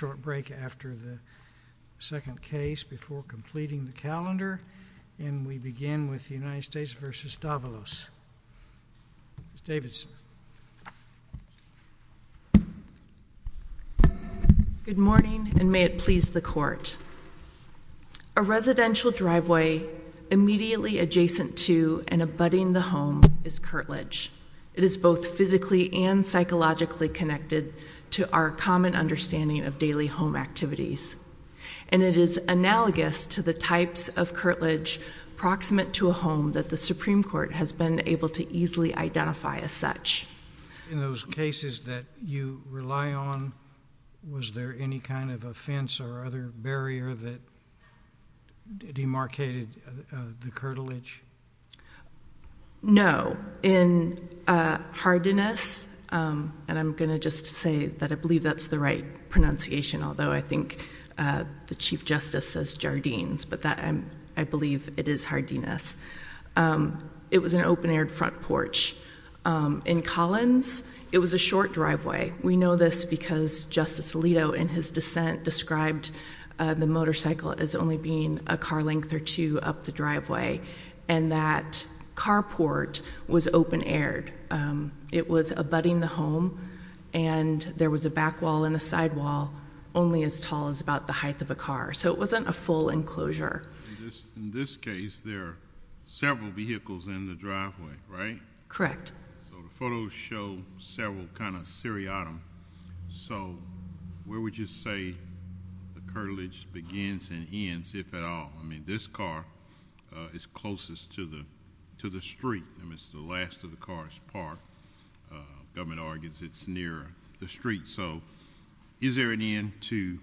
Good morning, and may it please the Court. A residential driveway immediately adjacent to and abutting the home is curtilage. It is both physically and psychologically connected to our common understanding of daily home activities, and it is analogous to the types of curtilage proximate to a home that the Supreme Court has been able to easily identify as such. In those cases that you rely on, was there any kind of offense or other barrier that demarcated the curtilage? No. In Hardiness, and I'm going to just say that I believe that's the right pronunciation, although I think the Chief Justice says Jardines, but I believe it is Hardiness. It was an open-aired front porch. In Collins, it was a short driveway. We know this because Justice Alito, in his dissent, described the motorcycle as only being a car length or two up the driveway, and that carport was open-aired. It was abutting the home, and there was a back wall and a side wall only as tall as about the height of a car, so it wasn't a full enclosure. In this case, there are several vehicles in the bottom, so where would you say the curtilage begins and ends, if at all? I mean, this car is closest to the street. I mean, it's the last of the car's part. The government argues it's near the street, so is there an end to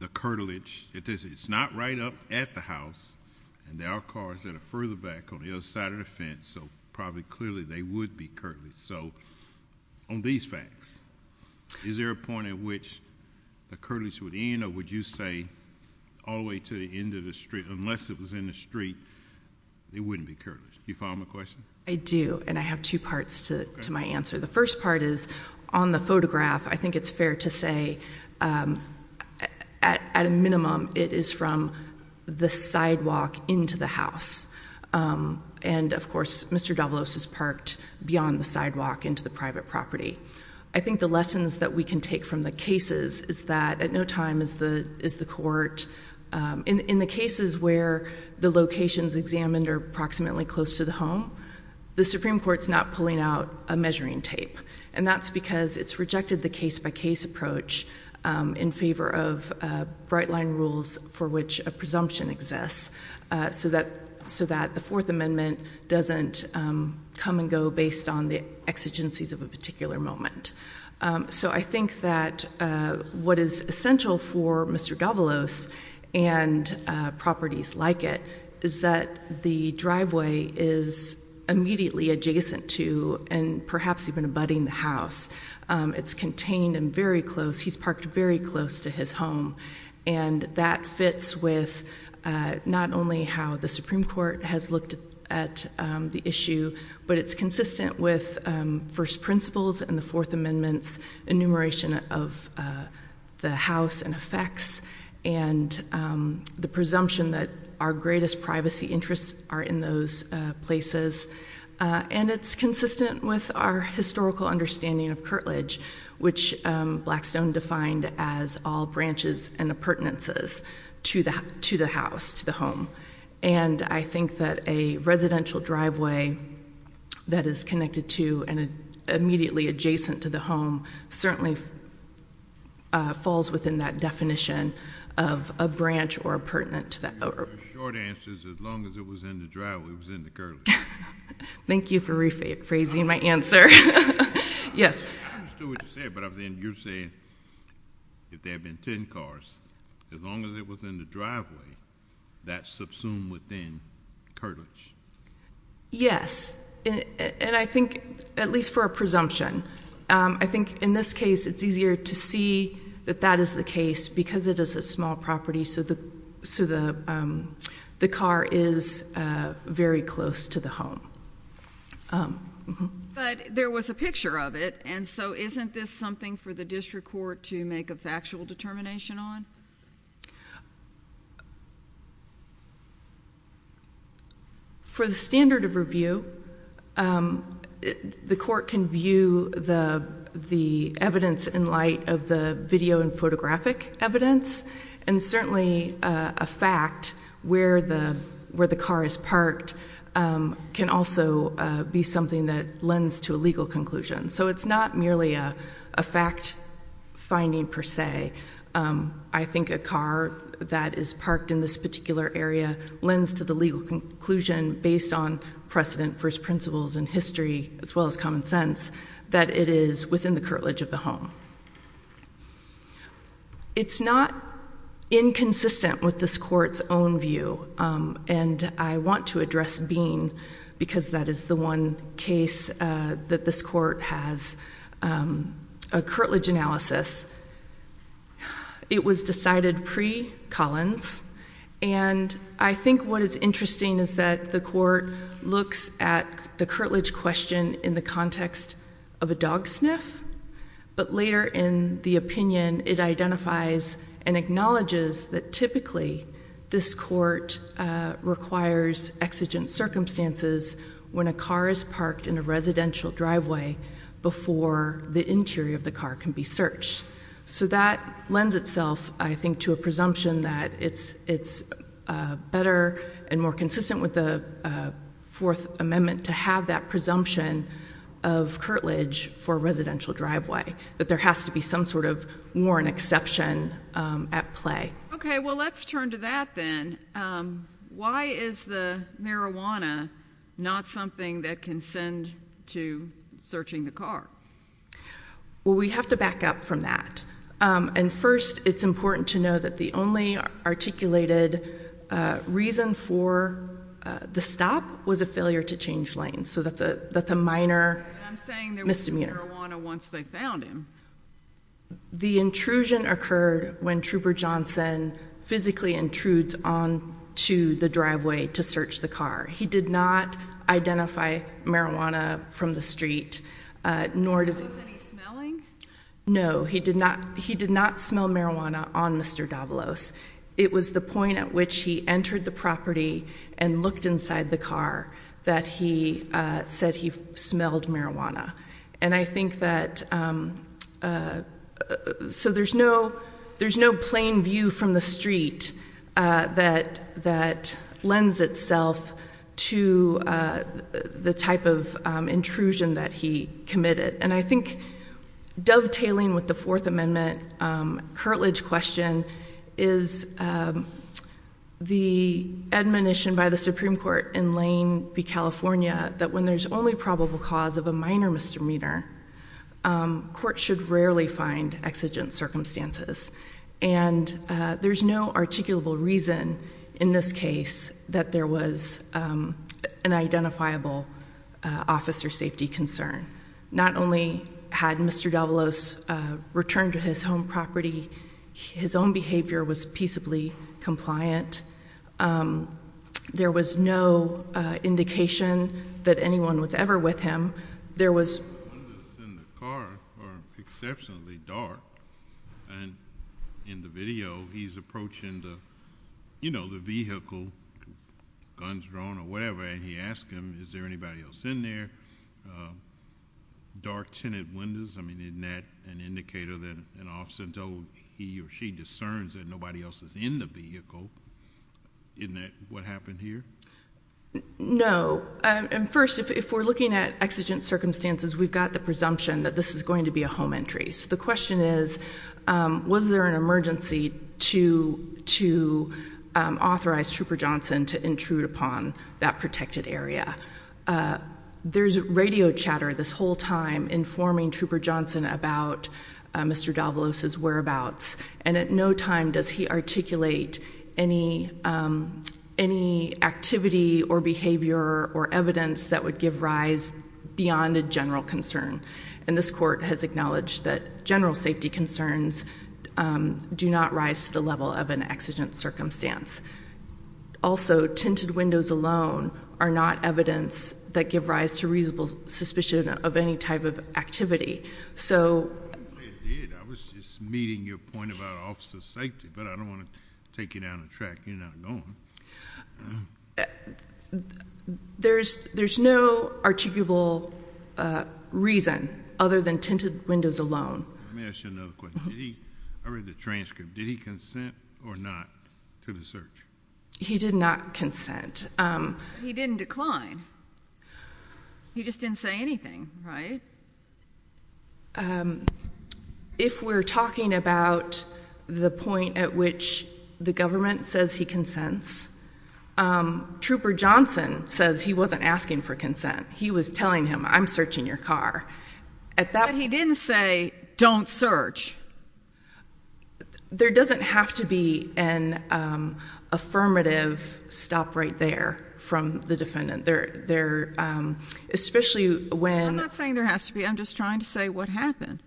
the curtilage? It's not right up at the house, and there are cars that are further back on the other side of the fence, so probably clearly they would be curtilage. So, on these facts, is there a point at which the curtilage would end, or would you say all the way to the end of the street, unless it was in the street, it wouldn't be curtilage? Do you follow my question? I do, and I have two parts to my answer. The first part is, on the photograph, I think it's fair to say, at a minimum, it is from the sidewalk into the house, and, of course, Mr. Davlos is parked beyond the sidewalk into the private property. I think the lessons that we can take from the cases is that, at no time is the court, in the cases where the locations examined are approximately close to the home, the Supreme Court's not pulling out a measuring tape, and that's because it's rejected the case-by-case approach in favor of bright-line rules for which a presumption exists so that the Fourth Amendment doesn't come and go based on the exigencies of a particular moment. So, I think that what is essential for Mr. Davlos and properties like it is that the driveway is immediately adjacent to, and perhaps even abutting, the house. It's contained and very close. He's parked very close to his home, and that fits with not only how the Supreme Court has looked at the issue, but it's consistent with first principles and the Fourth Amendment's enumeration of the house and effects, and the presumption that our greatest privacy interests are in those places, and it's consistent with our historical understanding of curtilage, which Blackstone defined as all branches and appurtenances to the house, to the home. And I think that a residential driveway that is connected to and immediately adjacent to the home certainly falls within that definition of a branch or appurtenant to that property. Your short answer is, as long as it was in the driveway, it was in the curtilage. Thank you for rephrasing my answer. Yes. I understood what you said, but you're saying, if there had been 10 cars, as long as it was in the driveway, that subsumed within curtilage. Yes. And I think, at least for a presumption, I think in this case it's easier to see that that is the case, because it is a small property, so the car is very close to the home. But there was a picture of it, and so isn't this something for the district court to make a factual determination on? For the standard of review, the court can view the evidence in light of the video and photographic evidence, and certainly a fact where the car is parked can also be something that lends to a legal conclusion. So it's not merely a fact-finding per se. I think a car that is parked in this particular area lends to the legal conclusion, based on precedent, first principles, and history, as well as common sense, that it is within the curtilage of the home. It's not inconsistent with this court's own view, and I want to address Bean, because that is the one case that this court has a curtilage analysis. It was decided pre-Collins, and I think what is interesting is that the court looks at the curtilage question in the context of a dog sniff, but later in the opinion it identifies and acknowledges that typically this court requires exigent circumstances when a car is parked in a residential driveway before the interior of the car can be searched. So that lends itself, I think, to a presumption that it's better and more consistent with the Fourth Amendment to have that presumption of curtilage for a residential driveway, that there has to be some sort of warrant exception at play. Okay, well let's turn to that then. Why is the marijuana not something that can send to searching the car? Well, we have to back up from that. And first, it's important to know that the only articulated reason for the stop was a failure to change lanes, so that's a minor misdemeanor. I'm saying there was no marijuana once they found him. The intrusion occurred when Trooper Johnson physically intrudes onto the driveway to search the car. He did not identify marijuana from the street, nor does he— Was he smelling? No, he did not. He did not smell marijuana on Mr. Davalos. It was the point at which he entered the property and looked inside the car that he said he smelled marijuana. And I think that—so there's no plain view from the street that lends itself to the type of intrusion that he committed. And I think dovetailing with the Fourth Amendment curtilage question is the admonition by the Supreme Court in Lane v. California that when there's only probable cause of a minor misdemeanor, courts should rarely find exigent circumstances. And there's no articulable reason in this case that there was an identifiable officer safety concern. Not only had Mr. Davalos returned to his home property, his own behavior was peaceably compliant. There was no indication that anyone was ever with him. There was— The windows in the car are exceptionally dark. And in the video, he's approaching the vehicle, guns drawn or whatever, and he asks him, is there anybody else in there? Dark tinted windows, I mean, isn't that an indicator that an officer told he or she discerns that nobody else is in the vehicle? Isn't that what happened here? No. And first, if we're looking at exigent circumstances, we've got the presumption that this is going to be a home entry. So the question is, was there an emergency to authorize Trooper Johnson to intrude upon that protected area? There's radio chatter this whole time informing Trooper Johnson about Mr. Davalos' whereabouts. And at no time does he articulate any activity or behavior or evidence that would give rise beyond a general concern. And this Court has acknowledged that general safety concerns do not rise to the level of an exigent circumstance. Also, tinted windows alone are not evidence that give rise to reasonable suspicion of any type of activity. I didn't say it did. I was just meeting your point about officer safety. But I don't want to take you down the track. You're not going. There's no articulable reason other than tinted windows alone. Let me ask you another question. I read the transcript. Did he consent or not to the search? He did not consent. He didn't decline. He just didn't say anything, right? If we're talking about the point at which the government says he consents, Trooper Johnson says he wasn't asking for consent. He was telling him, I'm searching your car. But he didn't say, don't search. There doesn't have to be an affirmative stop right there from the defendant. Especially when... I'm not saying there has to be. I'm just trying to say what happened.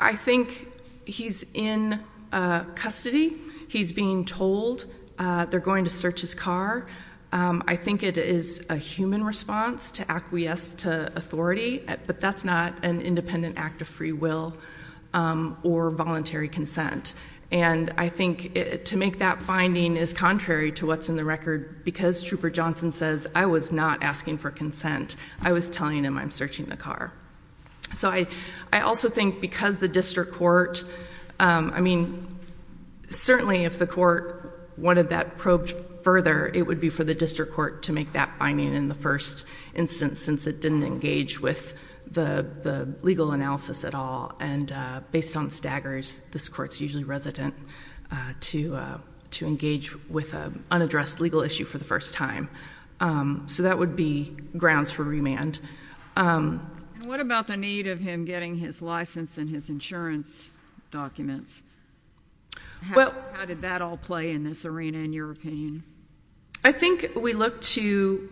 I think he's in custody. He's being told they're going to search his car. I think it is a human response to acquiesce to authority. But that's not an independent act of free will or voluntary consent. And I think to make that finding is contrary to what's in the record. Because Trooper Johnson says, I was not asking for consent. I was telling him, I'm searching the car. So I also think because the district court... I mean, certainly if the court wanted that probed further, it would be for the district court to make that finding in the first instance, since it didn't engage with the legal analysis at all. And based on staggers, this court's usually resident to engage with an unaddressed legal issue for the first time. So that would be grounds for remand. And what about the need of him getting his license and his insurance documents? How did that all play in this arena in your opinion? I think we look to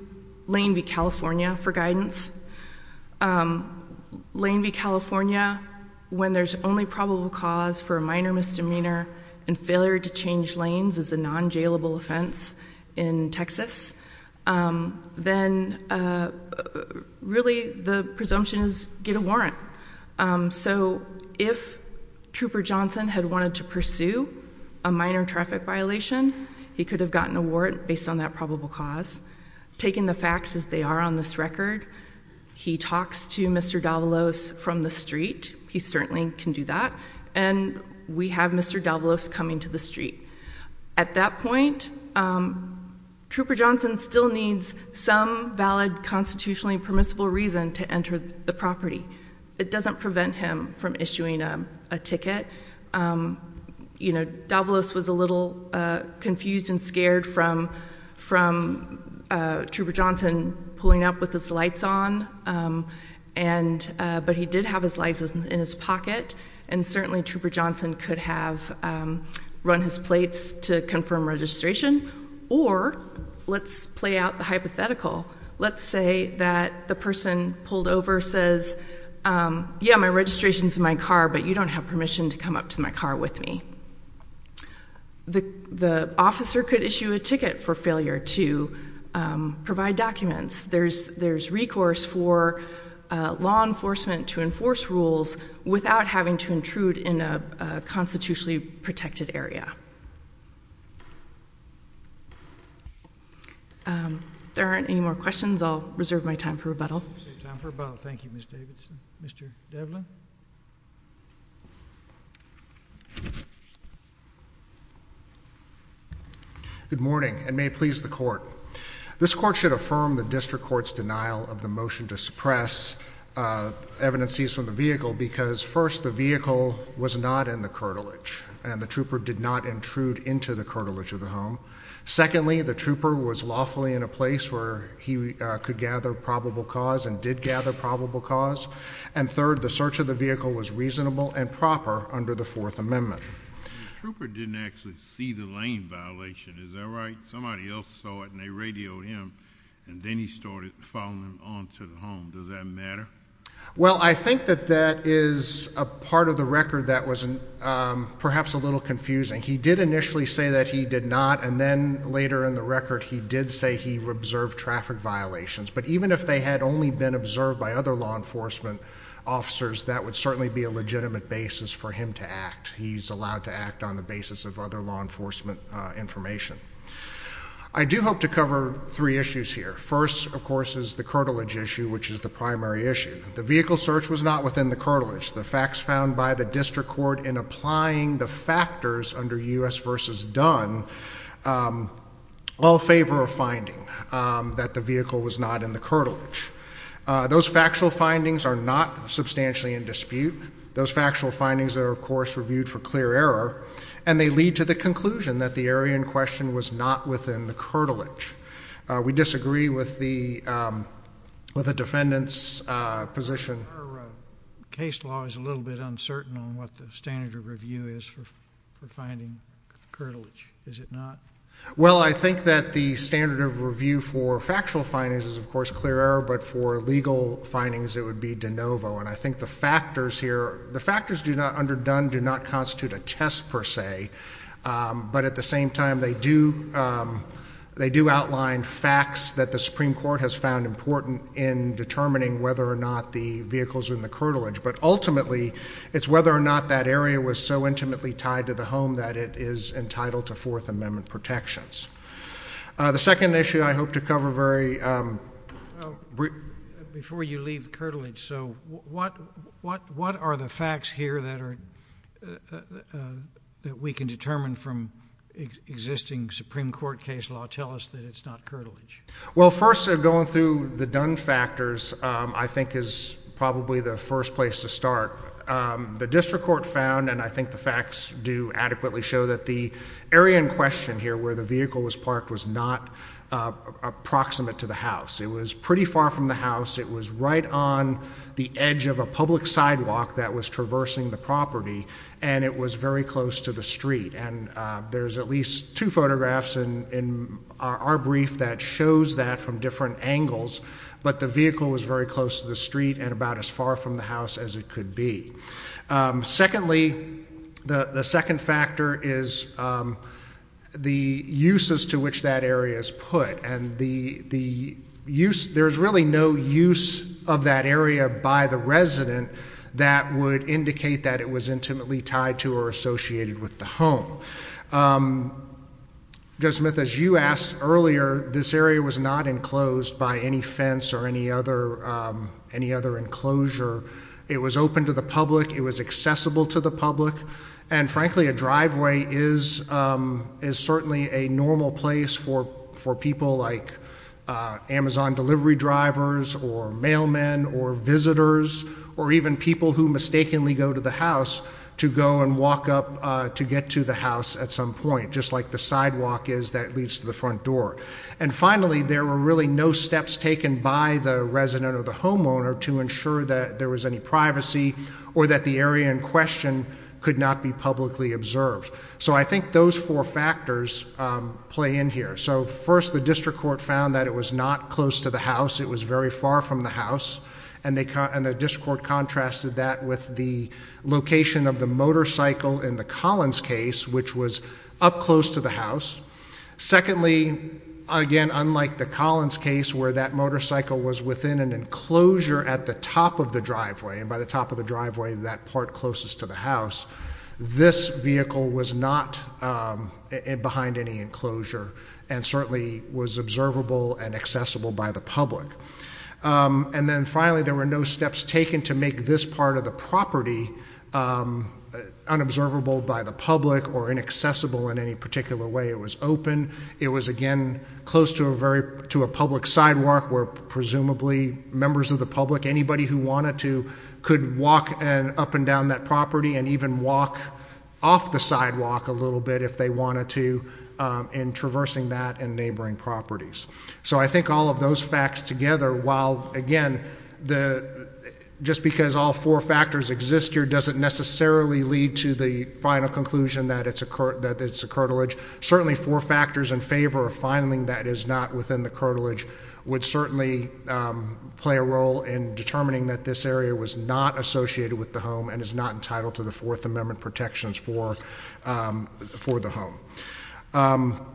Lane v. California for guidance. Lane v. California, when there's only probable cause for a minor misdemeanor and failure to change lanes is a non-jailable offense in Texas, then really the presumption is get a warrant. So if Trooper Johnson had wanted to pursue a minor traffic violation, he could have gotten a warrant based on that probable cause. Taking the facts as they are on this record, he talks to Mr. Davalos from the street. He certainly can do that. And we have Mr. Davalos coming to the street. At that point, Trooper Johnson still needs some valid constitutionally permissible reason to enter the property. It doesn't prevent him from issuing a ticket. Davalos was a little confused and scared from Trooper Johnson pulling up with his lights on, but he did have his license in his pocket, and certainly Trooper Johnson could have run his plates to confirm registration. Or let's play out the hypothetical. Let's say that the person pulled over says, yeah, my registration's in my car, but you don't have permission to come up to my car with me. The officer could issue a ticket for failure to provide documents. There's recourse for law enforcement to enforce rules without having to intrude in a constitutionally protected area. There aren't any more questions. I'll reserve my time for rebuttal. Time for rebuttal. Thank you, Ms. Davidson. Mr. Devlin? Good morning, and may it please the Court. This Court should affirm the district court's denial of the motion to suppress evidences from the vehicle because, first, the vehicle was not in the curtilage, and the trooper did not intrude into the curtilage of the home. Secondly, the trooper was lawfully in a place where he could gather probable cause and did gather probable cause. And third, the search of the vehicle was reasonable and proper under the Fourth Amendment. The trooper didn't actually see the lane violation. Is that right? Somebody else saw it, and they radioed him, and then he started following on to the home. Does that matter? Well, I think that that is a part of the record that was perhaps a little confusing. He did initially say that he did not, and then later in the record he did say he observed traffic violations. But even if they had only been observed by other law enforcement officers, that would certainly be a legitimate basis for him to act. He's allowed to act on the basis of other law enforcement information. I do hope to cover three issues here. First, of course, is the curtilage issue, which is the primary issue. The vehicle search was not within the curtilage. The facts found by the district court in applying the factors under U.S. v. Dunn all favor a finding that the vehicle was not in the curtilage. Those factual findings are not substantially in dispute. Those factual findings are, of course, reviewed for clear error, and they lead to the conclusion that the area in question was not within the curtilage. We disagree with the defendant's position. Your case law is a little bit uncertain on what the standard of review is for finding curtilage, is it not? Well, I think that the standard of review for factual findings is, of course, clear error, but for legal findings it would be de novo. And I think the factors here, the factors under Dunn do not constitute a test per se, but at the same time they do outline facts that the Supreme Court has found important in determining whether or not the vehicle is in the curtilage. But ultimately it's whether or not that area was so intimately tied to the home that it is entitled to Fourth Amendment protections. The second issue I hope to cover very briefly. Before you leave curtilage, so what are the facts here that we can determine from existing Supreme Court case law? Tell us that it's not curtilage. Well, first, going through the Dunn factors I think is probably the first place to start. The district court found, and I think the facts do adequately show, that the area in question here where the vehicle was parked was not approximate to the house. It was pretty far from the house. It was right on the edge of a public sidewalk that was traversing the property, and it was very close to the street. And there's at least two photographs in our brief that shows that from different angles, but the vehicle was very close to the street and about as far from the house as it could be. Secondly, the second factor is the uses to which that area is put. And there's really no use of that area by the resident that would indicate that it was intimately tied to or associated with the home. Judge Smith, as you asked earlier, this area was not enclosed by any fence or any other enclosure. It was open to the public. It was accessible to the public. And frankly, a driveway is certainly a normal place for people like Amazon delivery drivers or mailmen or visitors or even people who mistakenly go to the house to go and walk up to get to the house at some point, just like the sidewalk is that leads to the front door. And finally, there were really no steps taken by the resident or the homeowner to ensure that there was any privacy or that the area in question could not be publicly observed. So I think those four factors play in here. So first, the district court found that it was not close to the house. It was very far from the house. And the district court contrasted that with the location of the motorcycle in the Collins case, which was up close to the house. Secondly, again, unlike the Collins case where that motorcycle was within an enclosure at the top of the driveway, and by the top of the driveway, that part closest to the house, this vehicle was not behind any enclosure and certainly was observable and accessible by the public. And then finally, there were no steps taken to make this part of the property unobservable by the public or inaccessible in any particular way. It was open. It was, again, close to a public sidewalk where presumably members of the public, anybody who wanted to, could walk up and down that property and even walk off the sidewalk a little bit if they wanted to in traversing that and neighboring properties. So I think all of those facts together, while, again, just because all four factors exist here doesn't necessarily lead to the final conclusion that it's a curtilage. Certainly four factors in favor of finding that it is not within the curtilage would certainly play a role in determining that this area was not associated with the home and is not entitled to the Fourth Amendment protections for the home.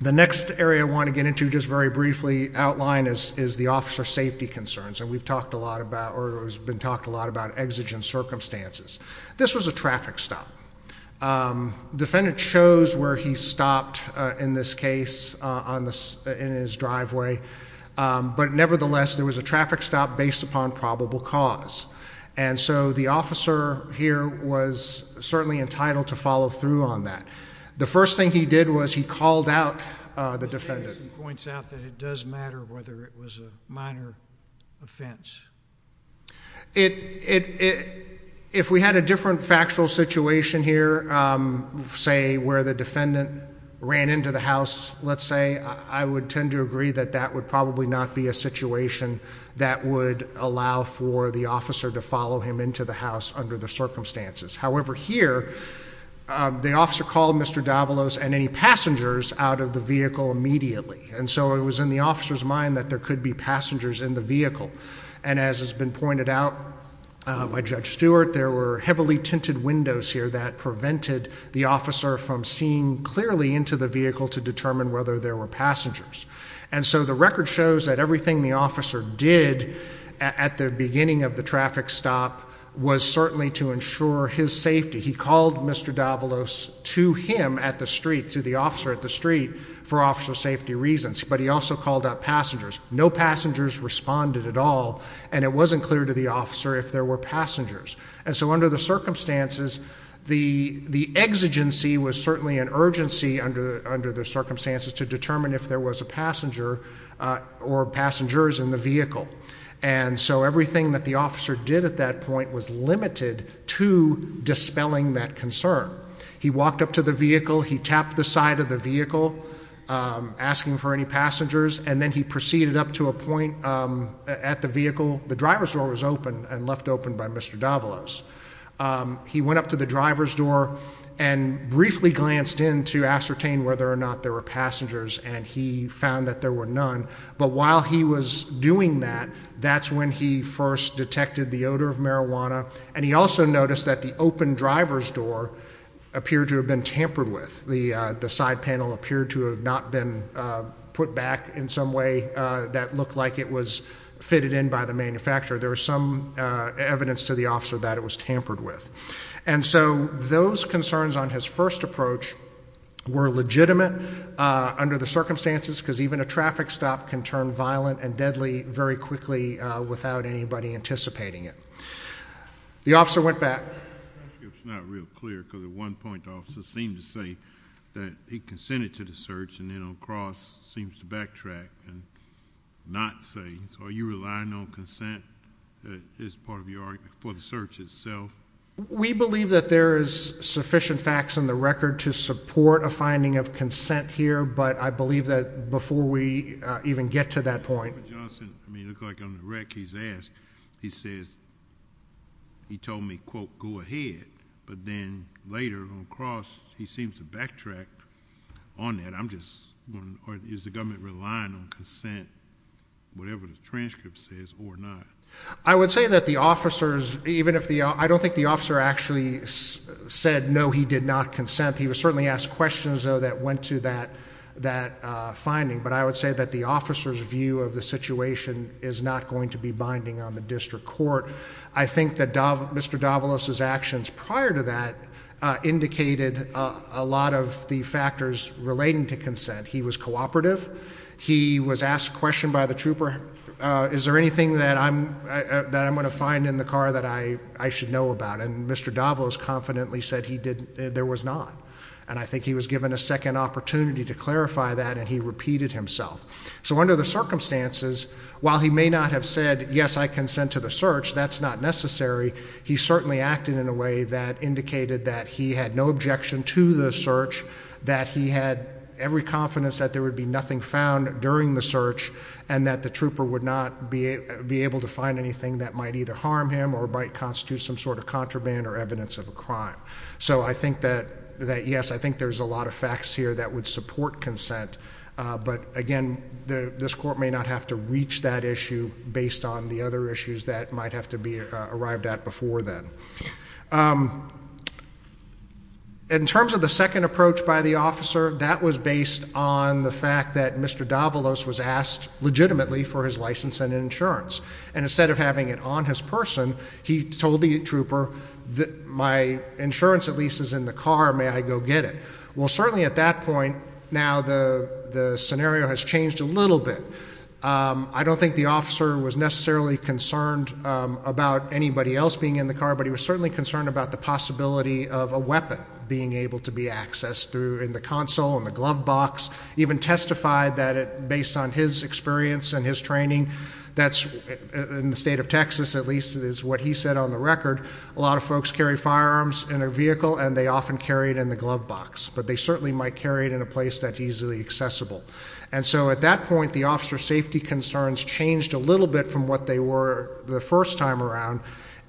The next area I want to get into just very briefly, outline, is the officer safety concerns, and we've talked a lot about or has been talked a lot about exigent circumstances. This was a traffic stop. Defendant chose where he stopped in this case in his driveway, but nevertheless there was a traffic stop based upon probable cause, and so the officer here was certainly entitled to follow through on that. The first thing he did was he called out the defendant. He points out that it does matter whether it was a minor offense. If we had a different factual situation here, say where the defendant ran into the house, let's say, I would tend to agree that that would probably not be a situation that would allow for the officer to follow him into the house under the circumstances. However, here the officer called Mr. Davalos and any passengers out of the vehicle immediately, and so it was in the officer's mind that there could be passengers in the vehicle. And as has been pointed out by Judge Stewart, there were heavily tinted windows here that prevented the officer from seeing clearly into the vehicle to determine whether there were passengers. And so the record shows that everything the officer did at the beginning of the traffic stop was certainly to ensure his safety. He called Mr. Davalos to him at the street, to the officer at the street, for officer safety reasons, but he also called out passengers. No passengers responded at all, and it wasn't clear to the officer if there were passengers. And so under the circumstances, the exigency was certainly an urgency under the circumstances to determine if there was a passenger or passengers in the vehicle. And so everything that the officer did at that point was limited to dispelling that concern. He walked up to the vehicle, he tapped the side of the vehicle asking for any passengers, and then he proceeded up to a point at the vehicle. The driver's door was open and left open by Mr. Davalos. He went up to the driver's door and briefly glanced in to ascertain whether or not there were passengers, and he found that there were none. But while he was doing that, that's when he first detected the odor of marijuana, and he also noticed that the open driver's door appeared to have been tampered with. The side panel appeared to have not been put back in some way that looked like it was fitted in by the manufacturer. There was some evidence to the officer that it was tampered with. And so those concerns on his first approach were legitimate under the circumstances because even a traffic stop can turn violent and deadly very quickly without anybody anticipating it. The officer went back. It's not real clear because at one point the officer seemed to say that he consented to the search and then on the cross seems to backtrack and not say. So are you relying on consent as part of your argument for the search itself? We believe that there is sufficient facts in the record to support a finding of consent here, but I believe that before we even get to that point. Mr. Johnson, it looks like on the rec he's asked, he says he told me, quote, go ahead, but then later on the cross he seems to backtrack on that. I'm just wondering is the government relying on consent, whatever the transcript says, or not? I would say that the officers, even if the officer actually said no, he did not consent. He was certainly asked questions, though, that went to that finding, but I would say that the officer's view of the situation is not going to be binding on the district court. I think that Mr. Davalos's actions prior to that indicated a lot of the factors relating to consent. He was cooperative. He was asked a question by the trooper, is there anything that I'm going to find in the car that I should know about, and Mr. Davalos confidently said there was not, and I think he was given a second opportunity to clarify that and he repeated himself. So under the circumstances, while he may not have said, yes, I consent to the search, that's not necessary, he certainly acted in a way that indicated that he had no objection to the search, that he had every confidence that there would be nothing found during the search, and that the trooper would not be able to find anything that might either harm him or might constitute some sort of contraband or evidence of a crime. So I think that, yes, I think there's a lot of facts here that would support consent, but, again, this court may not have to reach that issue based on the other issues that might have to be arrived at before then. In terms of the second approach by the officer, that was based on the fact that Mr. Davalos was asked legitimately for his license and insurance, and instead of having it on his person, he told the trooper, my insurance at least is in the car, may I go get it. Well, certainly at that point, now the scenario has changed a little bit. I don't think the officer was necessarily concerned about anybody else being in the car, but he was certainly concerned about the possibility of a weapon being able to be accessed through the console and the glove box, even testified that based on his experience and his training, that's in the state of Texas at least is what he said on the record, a lot of folks carry firearms in their vehicle and they often carry it in the glove box, but they certainly might carry it in a place that's easily accessible. And so at that point the officer's safety concerns changed a little bit from what they were the first time around,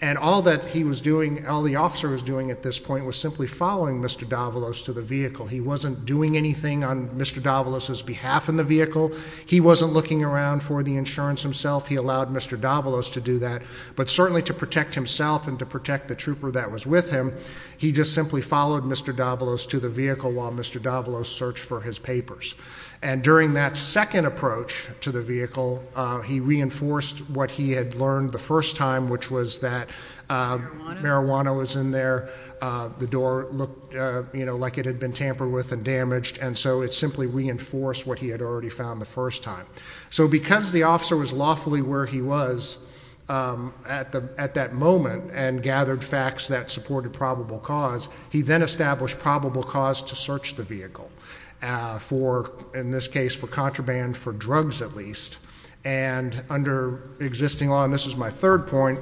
and all that he was doing, all the officer was doing at this point was simply following Mr. Davalos to the vehicle. He wasn't doing anything on Mr. Davalos' behalf in the vehicle, he wasn't looking around for the insurance himself, he allowed Mr. Davalos to do that, but certainly to protect himself and to protect the trooper that was with him, he just simply followed Mr. Davalos to the vehicle while Mr. Davalos searched for his papers. And during that second approach to the vehicle, he reinforced what he had learned the first time, which was that marijuana was in there, the door looked like it had been tampered with and damaged, and so it simply reinforced what he had already found the first time. So because the officer was lawfully where he was at that moment and gathered facts that supported probable cause, he then established probable cause to search the vehicle for, in this case, for contraband, for drugs at least, and under existing law, and this is my third point,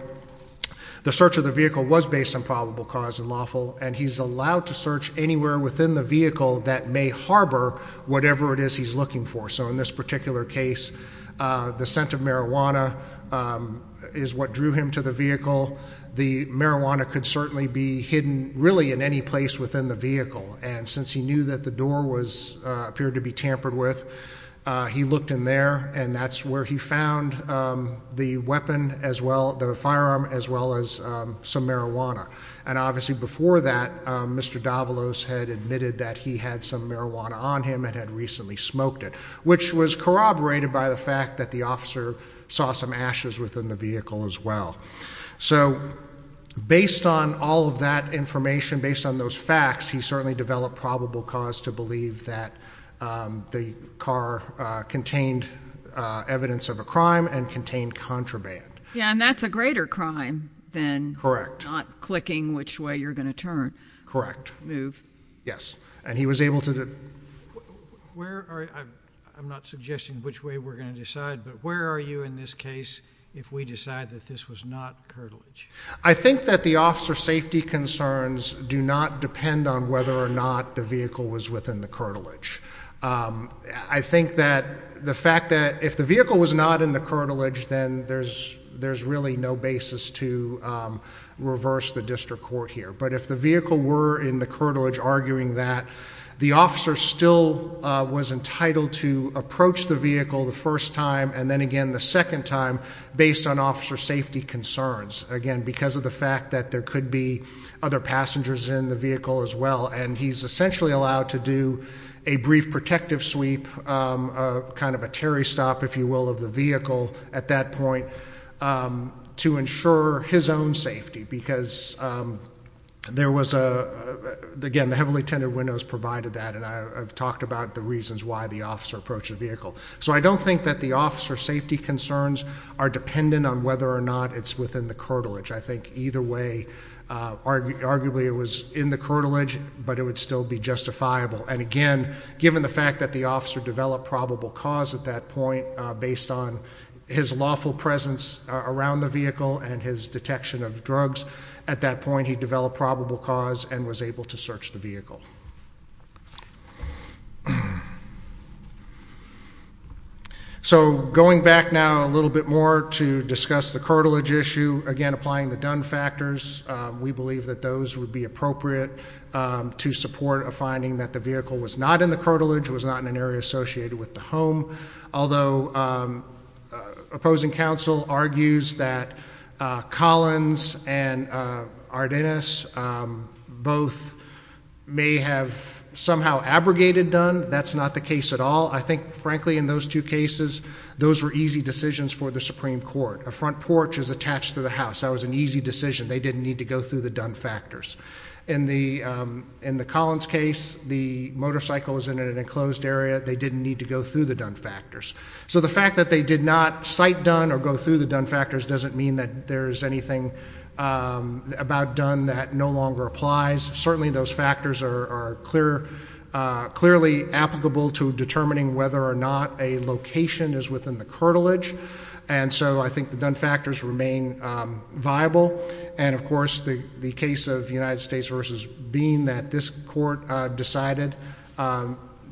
the search of the vehicle was based on probable cause and lawful, and he's allowed to search anywhere within the vehicle that may harbor whatever it is he's looking for. So in this particular case, the scent of marijuana is what drew him to the vehicle. The marijuana could certainly be hidden really in any place within the vehicle, and since he knew that the door appeared to be tampered with, he looked in there, and that's where he found the firearm as well as some marijuana. And obviously before that, Mr. Davalos had admitted that he had some marijuana on him and had recently smoked it, which was corroborated by the fact that the officer saw some ashes within the vehicle as well. So based on all of that information, based on those facts, he certainly developed probable cause to believe that the car contained evidence of a crime and contained contraband. Yeah, and that's a greater crime than not clicking which way you're going to turn. Correct. Move. Yes. I'm not suggesting which way we're going to decide, but where are you in this case if we decide that this was not curtilage? I think that the officer safety concerns do not depend on whether or not the vehicle was within the curtilage. I think that the fact that if the vehicle was not in the curtilage, then there's really no basis to reverse the district court here. But if the vehicle were in the curtilage arguing that, the officer still was entitled to approach the vehicle the first time and then again the second time based on officer safety concerns, again because of the fact that there could be other passengers in the vehicle as well. And he's essentially allowed to do a brief protective sweep, kind of a Terry stop, if you will, of the vehicle at that point to ensure his own safety because there was a, again, the heavily tinted windows provided that, and I've talked about the reasons why the officer approached the vehicle. So I don't think that the officer safety concerns are dependent on whether or not it's within the curtilage. I think either way, arguably it was in the curtilage, but it would still be justifiable. And again, given the fact that the officer developed probable cause at that point based on his lawful presence around the vehicle and his detection of drugs, at that point he developed probable cause and was able to search the vehicle. So going back now a little bit more to discuss the curtilage issue, again applying the Dunn factors, we believe that those would be appropriate to support a finding that the vehicle was not in the curtilage, was not in an area associated with the home. Although opposing counsel argues that Collins and Ardenas both may have somehow abrogated Dunn. That's not the case at all. I think, frankly, in those two cases those were easy decisions for the Supreme Court. A front porch is attached to the house. That was an easy decision. They didn't need to go through the Dunn factors. In the Collins case, the motorcycle was in an enclosed area. They didn't need to go through the Dunn factors. So the fact that they did not cite Dunn or go through the Dunn factors doesn't mean that there's anything about Dunn that no longer applies. Certainly those factors are clearly applicable to determining whether or not a location is within the curtilage. And so I think the Dunn factors remain viable. And, of course, the case of United States v. Bean that this court decided,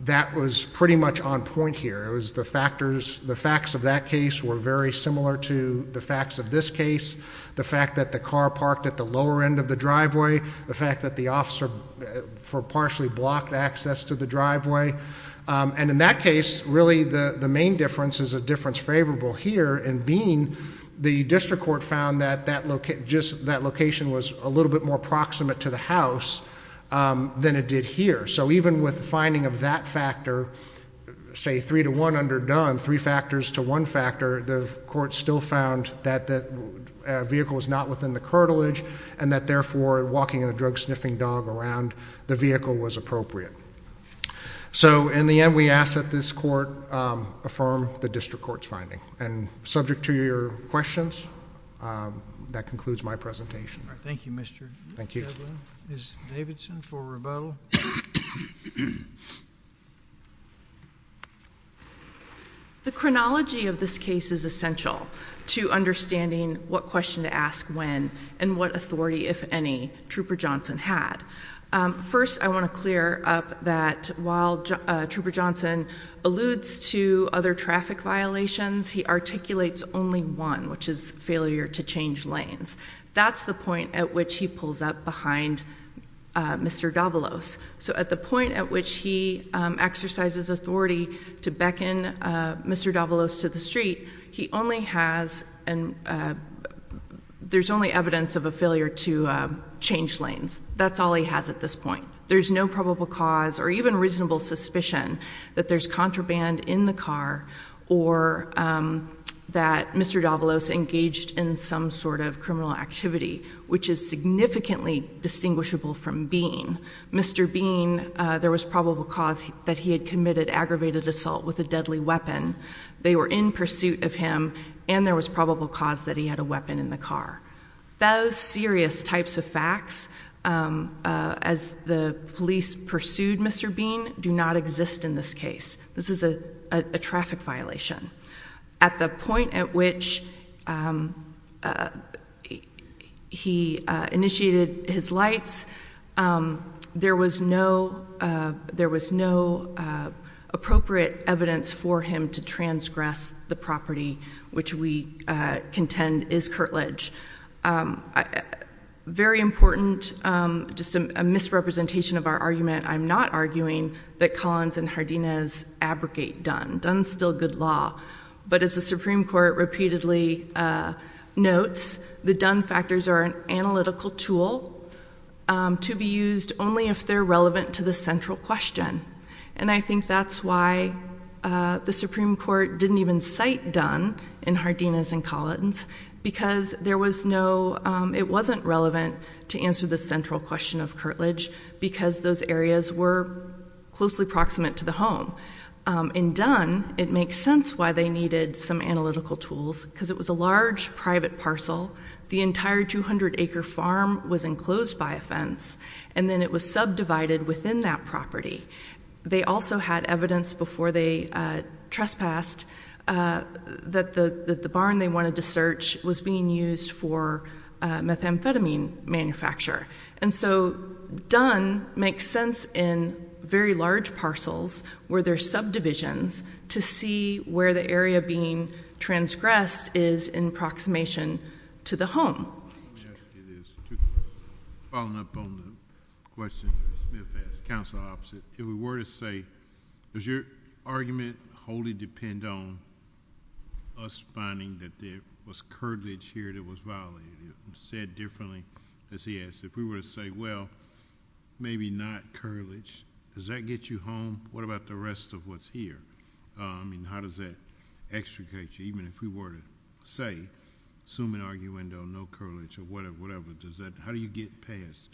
that was pretty much on point here. The facts of that case were very similar to the facts of this case. The fact that the car parked at the lower end of the driveway, the fact that the officer partially blocked access to the driveway. And in that case, really the main difference is a difference favorable here in Bean. The district court found that that location was a little bit more proximate to the house than it did here. So even with the finding of that factor, say three to one under Dunn, three factors to one factor, the court still found that the vehicle was not within the curtilage and that, therefore, walking a drug-sniffing dog around the vehicle was appropriate. So in the end, we ask that this court affirm the district court's finding. Thank you. And subject to your questions, that concludes my presentation. Thank you, Mr. Shadlow. Thank you. Ms. Davidson for rebuttal. The chronology of this case is essential to understanding what question to ask when and what authority, if any, Trooper Johnson had. First, I want to clear up that while Trooper Johnson alludes to other traffic violations, he articulates only one, which is failure to change lanes. That's the point at which he pulls up behind Mr. Davalos. So at the point at which he exercises authority to beckon Mr. Davalos to the street, there's only evidence of a failure to change lanes. That's all he has at this point. There's no probable cause or even reasonable suspicion that there's contraband in the car or that Mr. Davalos engaged in some sort of criminal activity, which is significantly distinguishable from Bean. Mr. Bean, there was probable cause that he had committed aggravated assault with a deadly weapon. They were in pursuit of him, and there was probable cause that he had a weapon in the car. Those serious types of facts, as the police pursued Mr. Bean, do not exist in this case. This is a traffic violation. At the point at which he initiated his lights, there was no appropriate evidence for him to transgress the property, which we contend is curtilage. Very important, just a misrepresentation of our argument, I'm not arguing that Collins and Hardines abrogate Dunn. Dunn's still good law. But as the Supreme Court repeatedly notes, the Dunn factors are an analytical tool to be used only if they're relevant to the central question. And I think that's why the Supreme Court didn't even cite Dunn in Hardines and Collins, because it wasn't relevant to answer the central question of curtilage, because those areas were closely proximate to the home. In Dunn, it makes sense why they needed some analytical tools, because it was a large private parcel. The entire 200-acre farm was enclosed by a fence, and then it was subdivided within that property. They also had evidence before they trespassed that the barn they wanted to search was being used for methamphetamine manufacture. And so Dunn makes sense in very large parcels where there's subdivisions to see where the area being transgressed is in approximation to the home. Following up on the question that Smith asked, counsel opposite, if we were to say, does your argument wholly depend on us finding that there was curtilage here that was violated? Said differently, as he asked, if we were to say, well, maybe not curtilage, does that get you home? What about the rest of what's here? I mean, how does that extricate you? Even if we were to say, assuming arguendo, no curtilage or whatever, how do you get past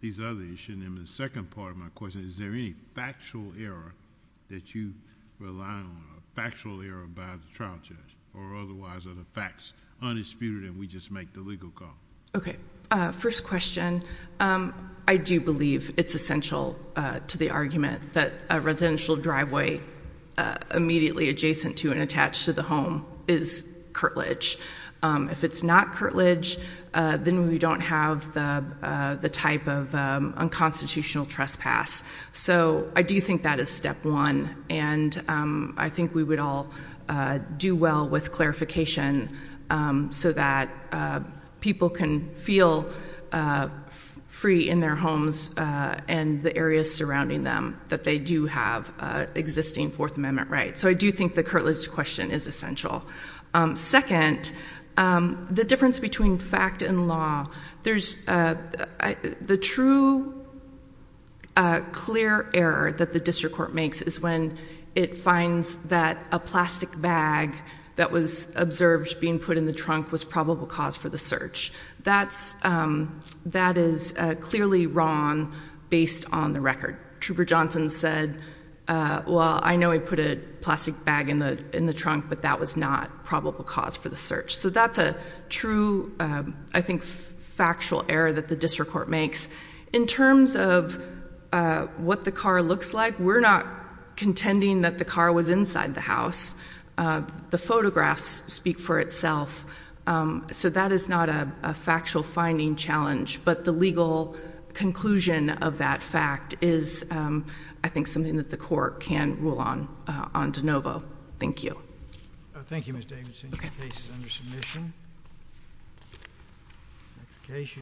these other issues? And then the second part of my question, is there any factual error that you rely on, a factual error by the trial judge, or otherwise are the facts undisputed and we just make the legal call? Okay. First question, I do believe it's essential to the argument that a residential driveway immediately adjacent to and attached to the home is curtilage. If it's not curtilage, then we don't have the type of unconstitutional trespass. So I do think that is step one. And I think we would all do well with clarification so that people can feel free in their homes and the areas surrounding them that they do have existing Fourth Amendment rights. So I do think the curtilage question is essential. Second, the difference between fact and law, the true clear error that the district court makes is when it finds that a plastic bag that was observed being put in the trunk was probable cause for the search. That is clearly wrong based on the record. Trooper Johnson said, well, I know he put a plastic bag in the trunk, but that was not probable cause for the search. So that's a true, I think, factual error that the district court makes. In terms of what the car looks like, we're not contending that the car was inside the house. The photographs speak for itself. So that is not a factual finding challenge. But the legal conclusion of that fact is, I think, something that the court can rule on on de novo. Thank you. Thank you, Ms. Davidson. Your case is under submission.